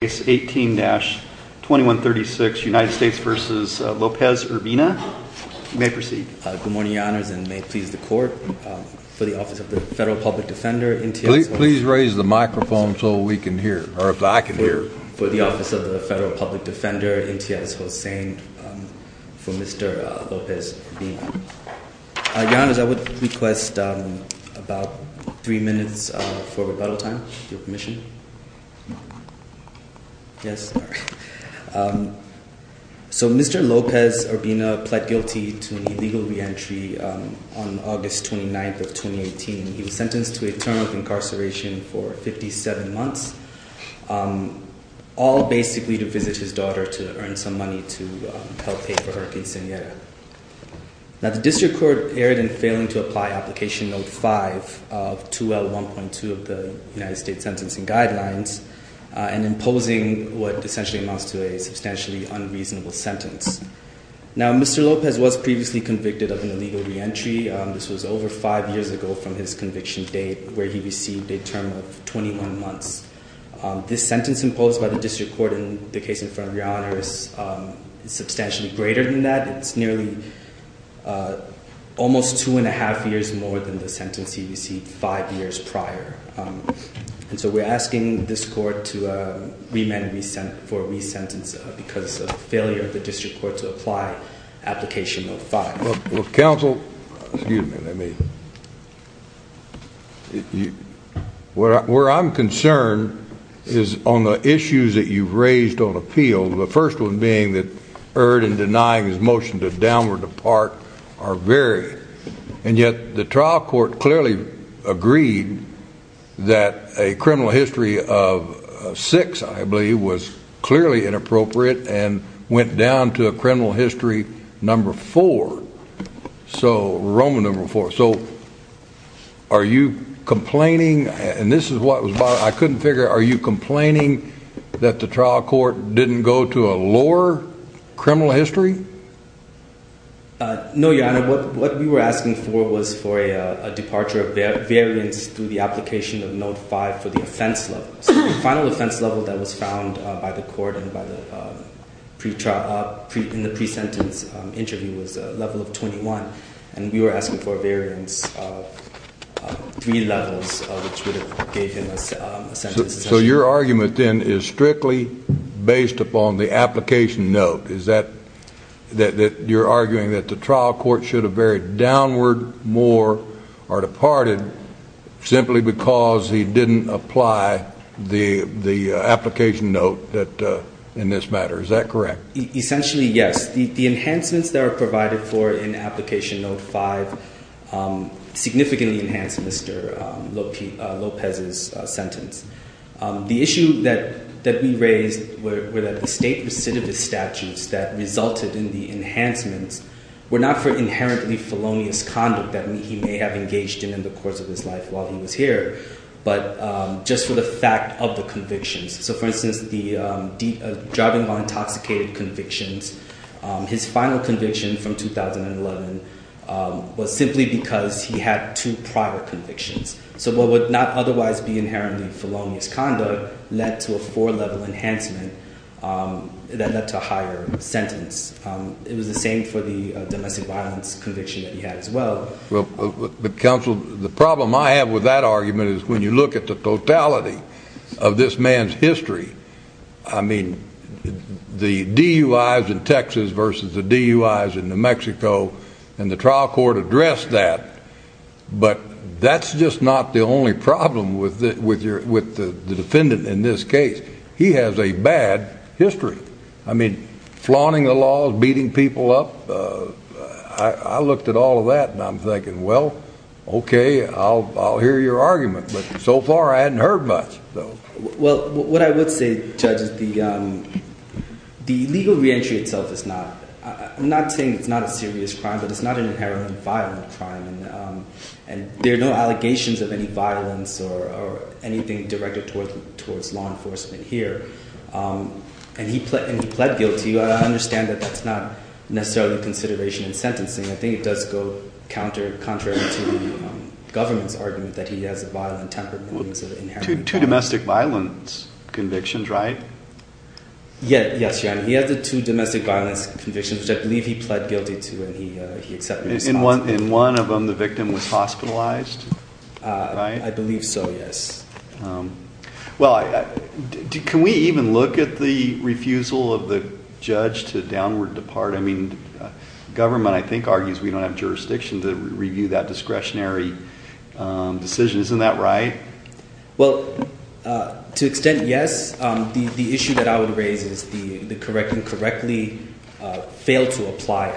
Case 18-2136 United States v. Lopez-Urbina. You may proceed. Good morning, Your Honors, and may it please the Court, for the Office of the Federal Public Defender, NTS-Hossain. Please raise the microphone so we can hear, or if I can hear. For the Office of the Federal Public Defender, NTS-Hossain, for Mr. Lopez-Urbina. Your Honors, I would request about three minutes for rebuttal time, if you'll permission. So, Mr. Lopez-Urbina pled guilty to an illegal re-entry on August 29th of 2018. He was sentenced to a term of incarceration for 57 months, all basically to visit his daughter to earn some money to help pay for her quinceanera. Now, the District Court erred in failing to apply Application Note 5 of 2L1.2 of the United States Sentencing Guidelines and imposing what essentially amounts to a substantially unreasonable sentence. Now, Mr. Lopez was previously convicted of an illegal re-entry. This was over five years ago from his conviction date, where he received a This sentence imposed by the District Court in the case in front of Your Honors is substantially greater than that. It's nearly almost two and a half years more than the sentence he received five years prior. And so, we're asking this Court to remand for re-sentence because of failure of the District Court to apply Application Note 5. Counsel, excuse me, where I'm concerned is on the issues that you've raised on appeal, the first one being that erred in denying his motion to downward depart or vary. And yet, the trial court clearly agreed that a criminal history of six, I believe, was clearly inappropriate and went down to a criminal history number four. So, Roman number four. So, are you complaining, and this is what was, I couldn't figure, are you complaining that the trial court didn't go to a lower criminal history? No, Your Honor. What we were asking for was for a departure of variance through the application of Note 5 for the offense level. So, the final offense level that was found by the court and by pre-trial, in the pre-sentence interview, was a level of 21. And we were asking for a variance of three levels, which would have gave him a sentence. So, your argument then is strictly based upon the application note. Is that, that you're arguing that the trial court should have varied downward more or departed simply because he didn't apply the application note in this matter? Is that correct? Essentially, yes. The enhancements that are provided for in application Note 5 significantly enhanced Mr. Lopez's sentence. The issue that we raised were that the state recidivist statutes that resulted in the enhancements were not for inherently felonious conduct that he may have engaged in in the course of his life while he was here, but just for the fact of the convictions. So, for instance, the driving while intoxicated convictions, his final conviction from 2011 was simply because he had two prior convictions. So, what would not otherwise be inherently felonious conduct led to a four-level enhancement that led to a higher sentence? It was the same for the domestic violence conviction that he had as well. Well, counsel, the problem I have with that argument is when you look at the totality of this man's history, I mean, the DUIs in Texas versus the DUIs in New Mexico, and the trial court addressed that, but that's just not the only problem with the defendant in this case. He has a bad history. I mean, flaunting the laws, beating people up, I looked at all of that, and I'm thinking, well, okay, I'll hear your argument, but so far I hadn't heard much. Well, what I would say, Judge, is the legal reentry itself is not, I'm not saying it's not a serious crime, but it's not an inherently violent crime, and there are no allegations of any violence or anything directed towards law enforcement here, and he pled guilty. I understand that that's not necessarily consideration in sentencing. I think it does go contrary to the government's argument that he has a violent temper. Two domestic violence convictions, right? Yes, he had the two domestic violence convictions, which I believe he pled I believe so, yes. Well, can we even look at the refusal of the judge to downward depart? I mean, government, I think, argues we don't have jurisdiction to review that discretionary decision. Isn't that right? Well, to extent, yes. The issue that I would raise is the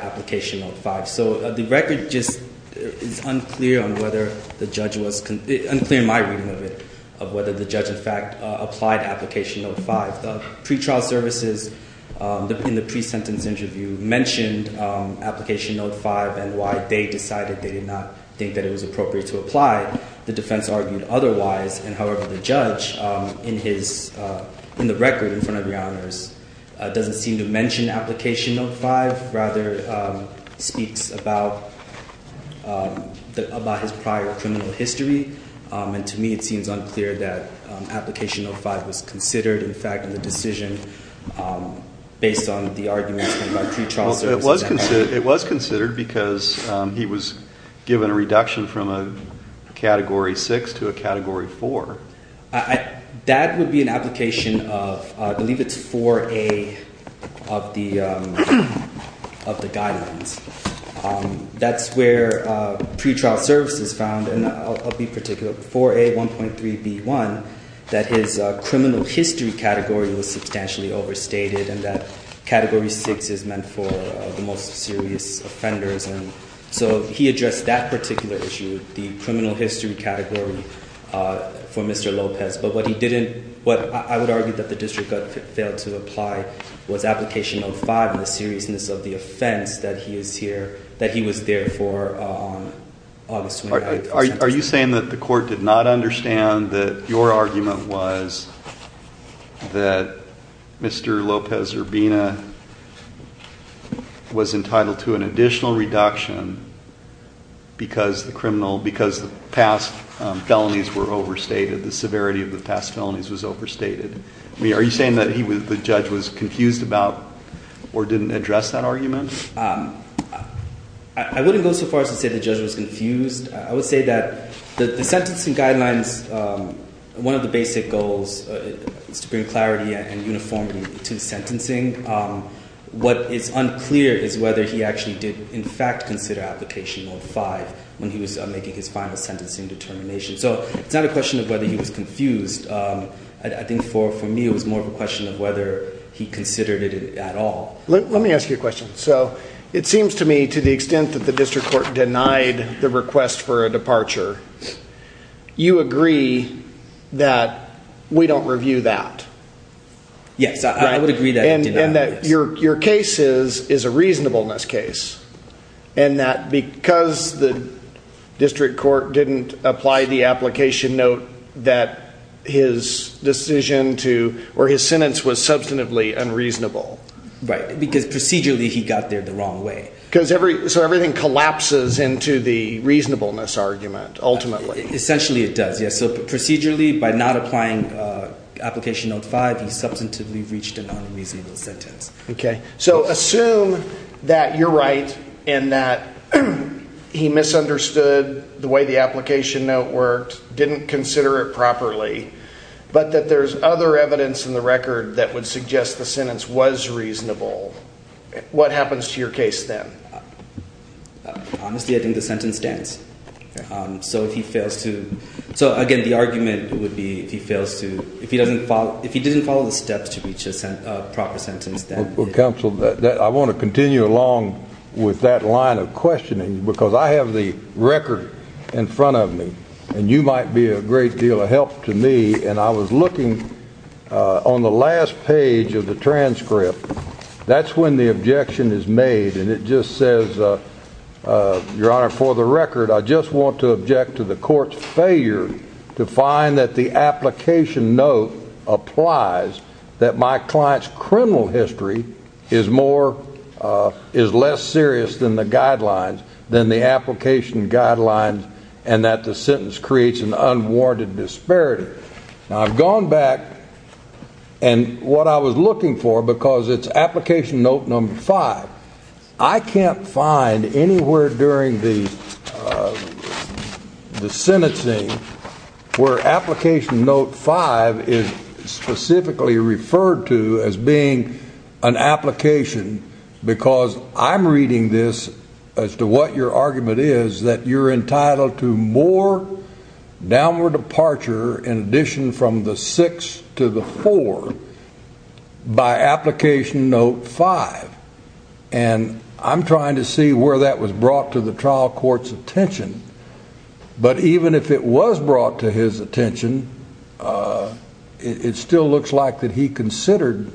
application note 5. So, the record just is unclear on whether the judge was, unclear in my reading of it, of whether the judge, in fact, applied application note 5. The pretrial services, in the pre-sentence interview, mentioned application note 5 and why they decided they did not think that it was appropriate to apply. The defense argued otherwise, and however, the judge in his, in the record in front of your honors, doesn't seem to mention application note 5, rather speaks about his prior criminal history. And to me, it seems unclear that application note 5 was considered, in fact, in the decision based on the argument about pretrial services. It was considered because he was given a reduction from a category 6 to a category 4. I, that would be an application of, I believe it's 4A of the guidelines. That's where pretrial services found, and I'll be particular, 4A1.3b1, that his criminal history category was substantially overstated and that category 6 is meant for the most serious offenders. And so, he addressed that particular issue, the criminal history category for Mr. Lopez. But what he didn't, what I would argue that the district failed to apply was application note 5 and the seriousness of the offense that he is here, that he was there for August 29th. Are you saying that the court did not understand that your argument was that Mr. Lopez Urbina was entitled to an additional reduction because the criminal, because the past felonies were overstated, the severity of the past felonies was overstated? I mean, are you saying that he was, the judge was confused about or didn't address that argument? I wouldn't go so far as to say the judge was confused. I would say that the sentencing guidelines, one of the basic goals is to bring clarity and uniformity to the sentencing. What is unclear is whether he actually did in fact consider application note 5 when he was making his final sentencing determination. So, it's not a question of whether he was confused. I think for me, it was more of a question of whether he considered it at all. Let me ask you a question. So, it seems to me to the extent that the district court denied the request for a departure, you agree that we don't review that? Yes, I would agree that. And that your case is a reasonableness case. And that because the district court didn't apply the application note that his decision to, or his sentence was substantively unreasonable. Right, because procedurally he got there the wrong way. So, everything collapses into the reasonableness argument ultimately. Essentially it does, yes. So, procedurally by not applying application note 5, he substantively reached an unreasonable sentence. Okay, so assume that you're right, and that he misunderstood the way the application note worked, didn't consider it properly, but that there's other evidence in the record that would suggest the sentence was reasonable. What happens to your case then? Honestly, I think the sentence stands. So, if he fails to, so again, the argument would be if he fails to, if he doesn't follow, if he didn't follow the steps to reach a proper sentence, then. Well, counsel, I want to continue along with that line of questioning, because I have the record in front of me, and you might be a great deal of help to me. And I was looking on the last page of the transcript. That's when the I just want to object to the court's failure to find that the application note applies, that my client's criminal history is more, is less serious than the guidelines, than the application guidelines, and that the sentence creates an unwarranted disparity. Now, I've gone back, and what I was looking for, because it's application note number 5, I can't find anywhere during the sentencing where application note 5 is specifically referred to as being an application, because I'm reading this as to what your argument is, that you're entitled to more downward departure in addition from the 6 to the 4 by application note 5. And I'm trying to see where that was brought to the trial court's attention. But even if it was brought to his attention, it still looks like that he considered,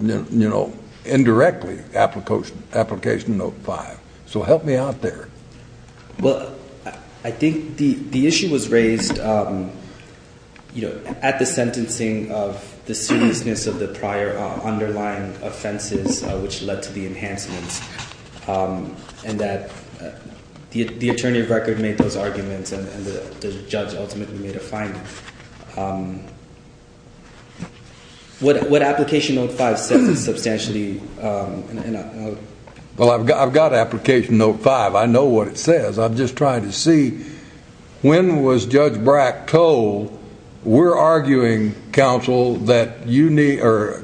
you know, indirectly application note 5. So, help me out there. Well, I think the issue was raised, you know, at the sentencing of the seriousness of the prior underlying offenses, which led to the enhancements, and that the attorney of record made those arguments, and the judge ultimately made a finding. What application note 5 says is substantially... Well, I've got application note 5. I know what it says. I'm just trying to see, when was Judge Brack told, we're arguing, counsel, that you need, or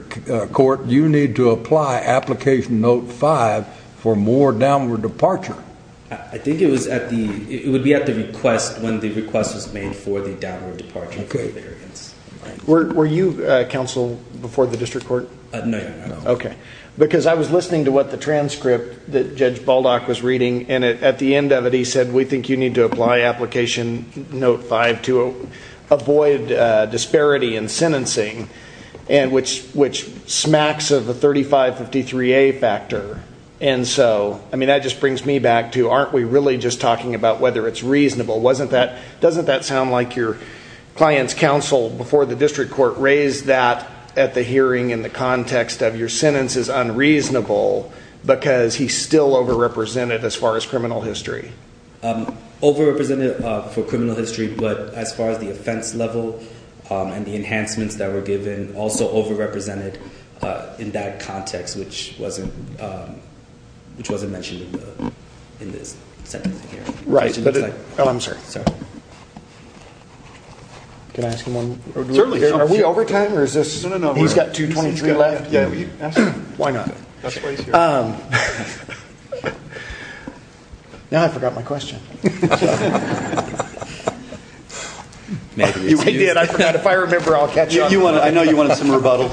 court, you need to apply application note 5 for more downward departure? I think it was at the, it would be at the request when the request was made for the downward departure. Okay. Were you counsel before the district court? No. Okay. Because I was listening to what the transcript that Judge Baldock was reading, and at the end of it, he said, we think you need to apply application note 5 to avoid disparity in sentencing, and which smacks of a 3553A factor. And so, I mean, that just brings me back to, aren't we really just talking about whether it's reasonable? Wasn't that, doesn't that sound like your client's counsel before the district court raised that at the hearing in the context of your sentence is unreasonable because he's still overrepresented as far as criminal history? Overrepresented for criminal history, but as far as the offense level and the enhancements that were given, also overrepresented in that context, which wasn't which wasn't mentioned in the, in this sentence here. Right. Oh, I'm sorry. Can I ask him one? Certainly. Are we over time, or is this? No, no, no. He's got 223 left. Yeah, we asked him. Why not? That's why he's here. Now I forgot my question. Maybe. You did. I forgot. If I remember, I'll catch up. You want, I know you wanted some government.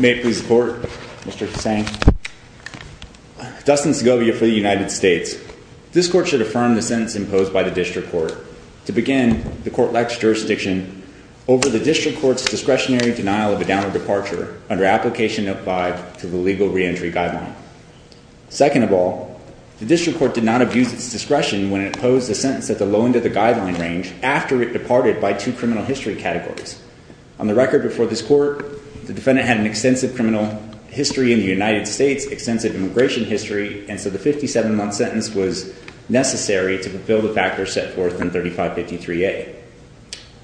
May it please the court, Mr. Hussain. Dustin Segovia for the United States. This court should affirm the sentence imposed by the district court. To begin, the court lacks jurisdiction over the district court's discretionary denial of a downward departure under application of five to the legal reentry guideline. Second of all, the district court did not abuse its discretion when it posed a sentence at the low end of the guideline range after it departed by two criminal history categories. On the record before this court, the defendant had an extensive criminal history in the United States, extensive immigration history. And so the 57 month sentence was necessary to fulfill the factors set forth in 3553A.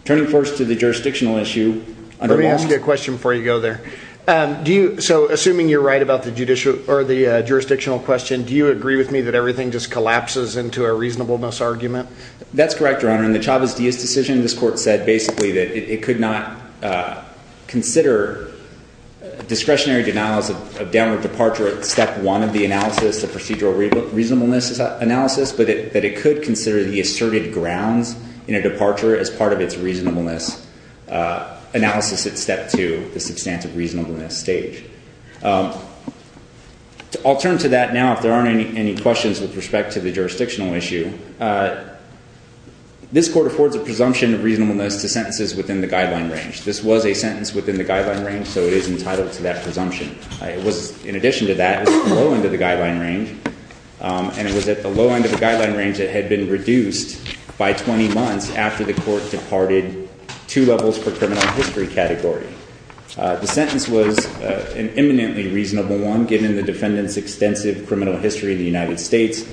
Turning first to the jurisdictional issue. Let me ask you a question before you go there. Do you, so assuming you're right about the judicial or the jurisdictional question, do you agree with me that everything just collapses into a reasonableness argument? That's correct, Your Honor. In the Chavez-Diaz decision, this court said basically that it could not consider discretionary denials of downward departure at step one of the analysis, the procedural reasonableness analysis, but that it could consider the asserted grounds in a departure as part of its reasonableness analysis at step two, the substantive reasonableness stage. I'll turn to that now if there aren't any questions with respect to the jurisdictional issue. This court affords a presumption of reasonableness to sentences within the guideline range. This was a sentence within the guideline range, so it is entitled to that presumption. It was, in addition to that, it was at the low end of the guideline range, and it was at the low end of the guideline range that had been reduced by 20 months after the court departed two levels per criminal history category. The sentence was an eminently reasonable one given the defendant's extensive criminal history in the United States.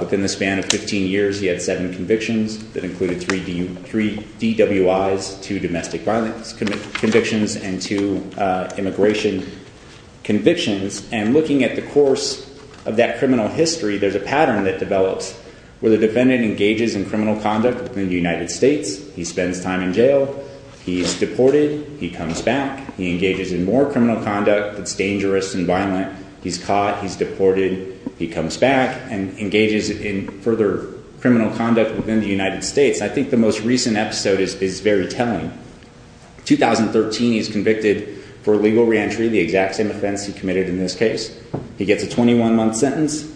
Within the span of 15 years, he had seven convictions that included three DWIs, two domestic violence convictions, and two immigration convictions. And looking at the where the defendant engages in criminal conduct within the United States, he spends time in jail, he's deported, he comes back, he engages in more criminal conduct that's dangerous and violent, he's caught, he's deported, he comes back and engages in further criminal conduct within the United States, I think the most recent episode is very telling. 2013, he's convicted for legal reentry, the exact same offense he committed in this case. He gets a 21-month sentence,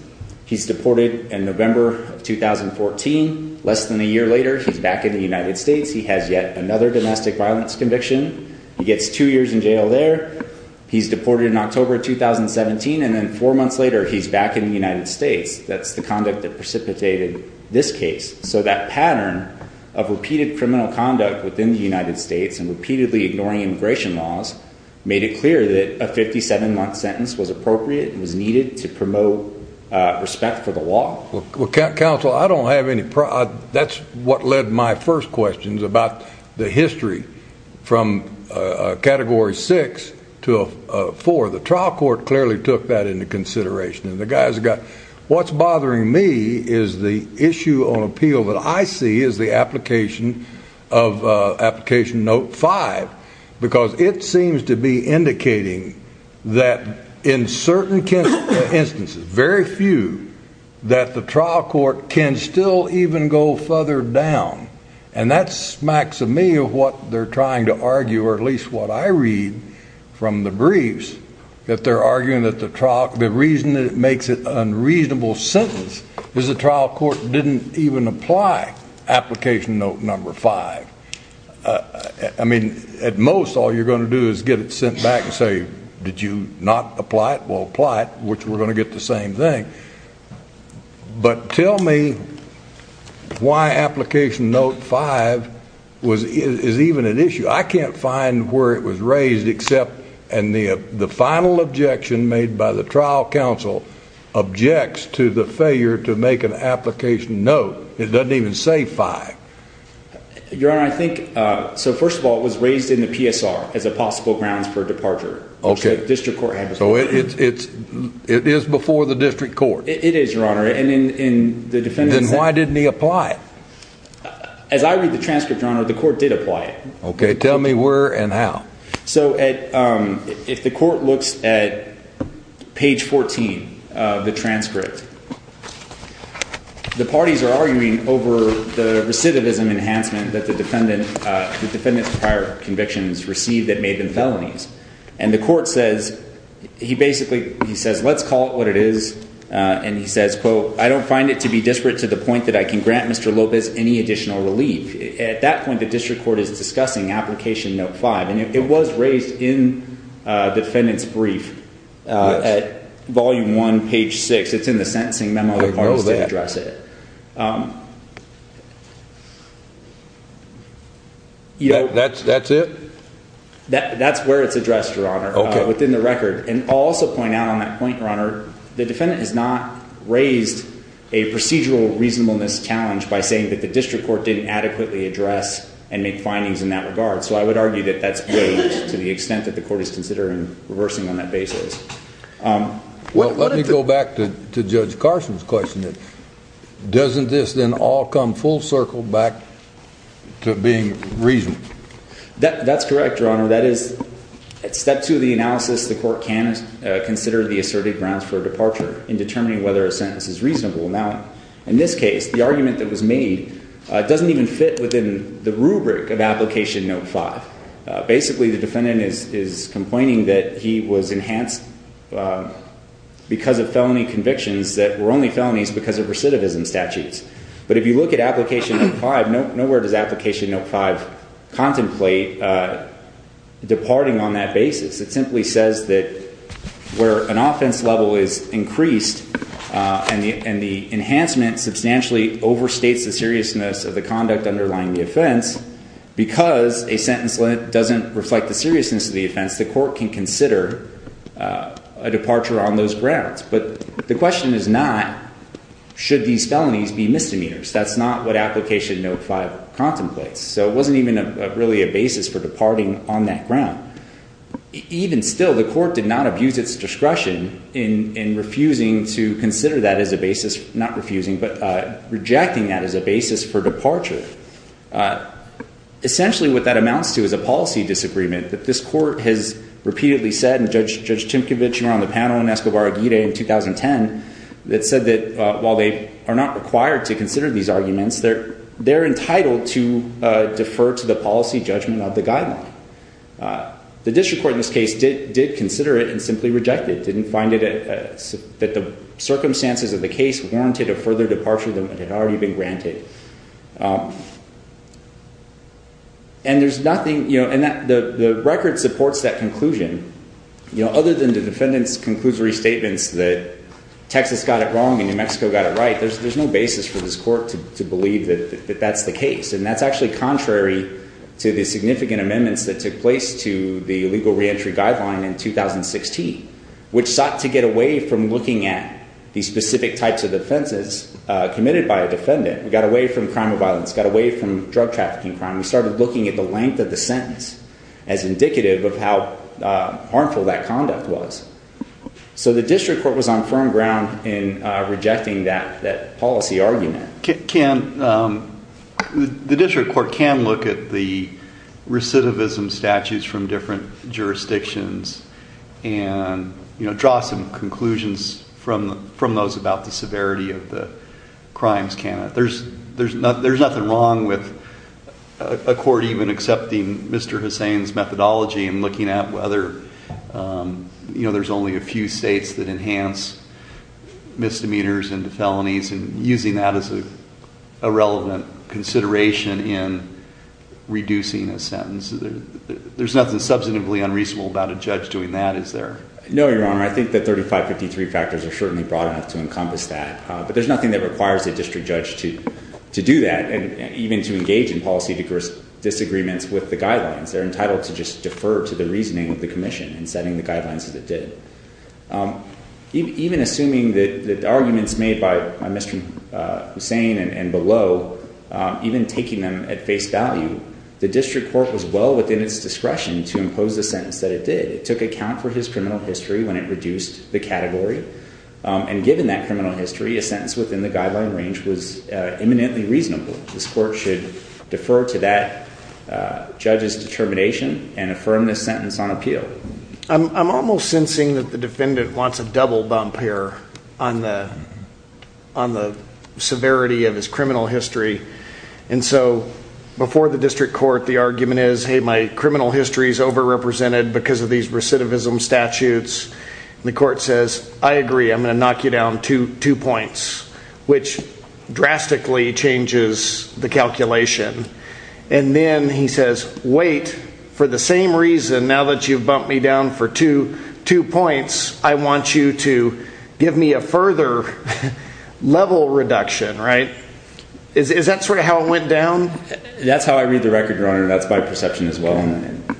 he's deported in November of 2014, less than a year later he's back in the United States, he has yet another domestic violence conviction, he gets two years in jail there, he's deported in October 2017, and then four months later he's back in the United States. That's the conduct that precipitated this case. So that pattern of repeated criminal conduct within the United States and repeatedly ignoring immigration laws made it clear that a 57-month sentence was appropriate and was needed to promote respect for the law. Well counsel, I don't have any problem, that's what led my first questions about the history from category six to four. The trial court clearly took that into consideration and the guys got what's bothering me is the issue on appeal that I see is the application of application note five, because it seems to be indicating that in certain instances, very few, that the trial court can still even go further down. And that smacks of me of what they're trying to argue, or at least what I read from the briefs, that they're arguing that the trial, the reason that it makes it an unreasonable sentence is the trial court didn't even apply application note number five. I mean at most all you're going to do is get it sent back and say, did you not apply it? Well apply it, which we're going to get the same thing. But tell me why application note five is even an issue. I can't find where it was raised except and the final objection made by the trial counsel objects to the failure to make an application note. It doesn't even say five. Your honor, I think, so first of all it was raised in the PSR as a possible grounds for departure. Okay. So it's, it is before the district court. It is your honor, and in the defendant's. Then why didn't he apply it? As I read the transcript your honor, the court did apply it. Okay. Tell me where and how. So at, if the court looks at page 14 of the transcript, the parties are arguing over the recidivism enhancement that the defendant, the defendant's prior convictions received that made them felonies. And the court says, he basically, he says, let's call it what it is. And he says, quote, I don't find it to be disparate to the district court is discussing application note five. And it was raised in a defendant's brief at volume one, page six, it's in the sentencing memo. The parties didn't address it. You know, that's, that's it. That's where it's addressed your honor within the record. And also point out on that point, your honor, the defendant has not raised a procedural reasonableness challenge by saying that the district court didn't adequately address and make findings in that regard. So I would argue that that's to the extent that the court is considering reversing on that basis. Um, well, let me go back to, to judge Carson's question that doesn't this then all come full circle back to being reasonable. That that's correct. Your honor, that is step two of the analysis. The court can consider the assertive grounds for departure in determining whether a sentence is reasonable. Now, in this case, the argument that was made, uh, doesn't even fit within the rubric of application note five. Uh, basically the defendant is, is complaining that he was enhanced, uh, because of felony convictions that were only felonies because of recidivism statutes. But if you look at application five, no, nowhere does application note five contemplate, uh, departing on that basis. It simply says that where an offense level is increased, uh, and the, and the enhancement substantially overstates the seriousness of the conduct underlying the offense, because a sentence doesn't reflect the seriousness of the offense, the court can consider, uh, a departure on those grounds. But the question is not, should these felonies be misdemeanors? That's not what application note five contemplates. So it wasn't even a really a basis for departing on that ground. Even still, the court did not abuse its discretion in, in refusing to consider that as a basis, not refusing, but, uh, rejecting that as a basis for departure. Uh, essentially what that amounts to is a policy disagreement that this court has repeatedly said, and Judge, Judge Timkovich, you were on the panel in Escobar Aguirre in 2010 that said that, uh, while they are not required to consider these arguments, they're, they're entitled to, uh, defer to the policy judgment of the guideline. Uh, the district court in this case did, did consider it and simply rejected, didn't find it, uh, that the circumstances of the case warranted a further departure than had already been granted. Um, and there's nothing, you know, and that the, the record supports that conclusion, you know, other than the defendant's conclusory statements that Texas got it wrong and New Mexico got it right. There's, there's no basis for this court to believe that that's the case. And that's actually contrary to the significant amendments that took place to the legal reentry guideline in 2016, which sought to get away from looking at these specific types of defenses, uh, committed by a defendant. We got away from crime of violence, got away from drug trafficking crime. We started looking at the length of the sentence as indicative of how, uh, harmful that conduct was. So the district court was on firm ground in, uh, rejecting that, that policy argument. Can, um, the district court can look at the recidivism statues from different jurisdictions and, you know, draw some conclusions from, from those about the severity of the crimes. Can it, there's, there's not, there's nothing wrong with a court even accepting Mr. Hussain's methodology and looking at whether, um, you know, there's only a few States that enhance misdemeanors into felonies and using that as a relevant consideration in reducing a sentence. There's nothing substantively unreasonable about a judge doing that. Is there? No, Your Honor. I think that 3553 factors are certainly broad enough to encompass that. Uh, but there's nothing that requires a district judge to, to do that. And even to engage in policy discourse disagreements with the guidelines, they're entitled to just defer to the reasoning of the commission and setting the guidelines that it did. Um, even assuming that the arguments made by Mr. Hussain and below, um, even taking them at face value, the district court was well within its discretion to impose the sentence that it did. It took account for his criminal history when it reduced the category. Um, and given that criminal history, a sentence within the guideline range was imminently reasonable. This court should defer to that, uh, judge's I'm, I'm almost sensing that the defendant wants a double bump here on the, on the severity of his criminal history. And so before the district court, the argument is, Hey, my criminal history is overrepresented because of these recidivism statutes. And the court says, I agree. I'm going to knock you down to two points, which drastically changes the calculation. And then he says, wait for the same reason. Now that you've bumped me down for two, two points, I want you to give me a further level reduction, right? Is that sort of how it went down? That's how I read the record runner. That's by perception as well. And,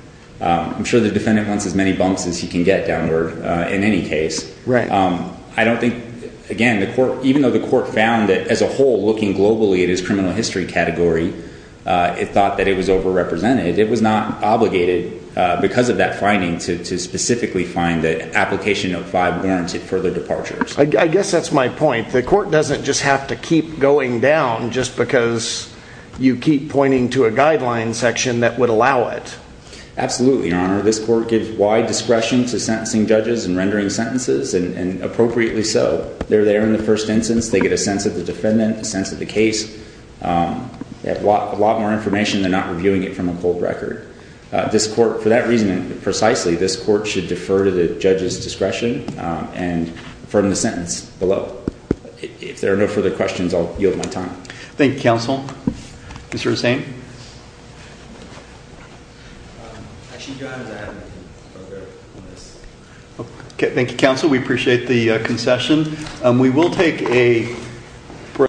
um, I'm sure the defendant wants as many bumps as he can get downward, uh, in any case. Um, I don't think again, the court, even though the court found that as a whole, looking globally at his criminal category, uh, it thought that it was overrepresented. It was not obligated because of that finding to, to specifically find the application of five warranted further departures. I guess that's my point. The court doesn't just have to keep going down just because you keep pointing to a guideline section that would allow it. Absolutely. Honor this court gives wide discretion to sentencing judges and rendering sentences and appropriately. So they're there in the first instance, they get a sense of the defendant, a sense of the case. Um, they have a lot, a lot more information. They're not reviewing it from a cold record. Uh, this court for that reason, precisely this court should defer to the judge's discretion, um, and from the sentence below, if there are no further questions, I'll yield my time. Thank you, counsel. Mr. Hussein. Okay. Thank you, counsel. We appreciate the concession. Um, we will take a break.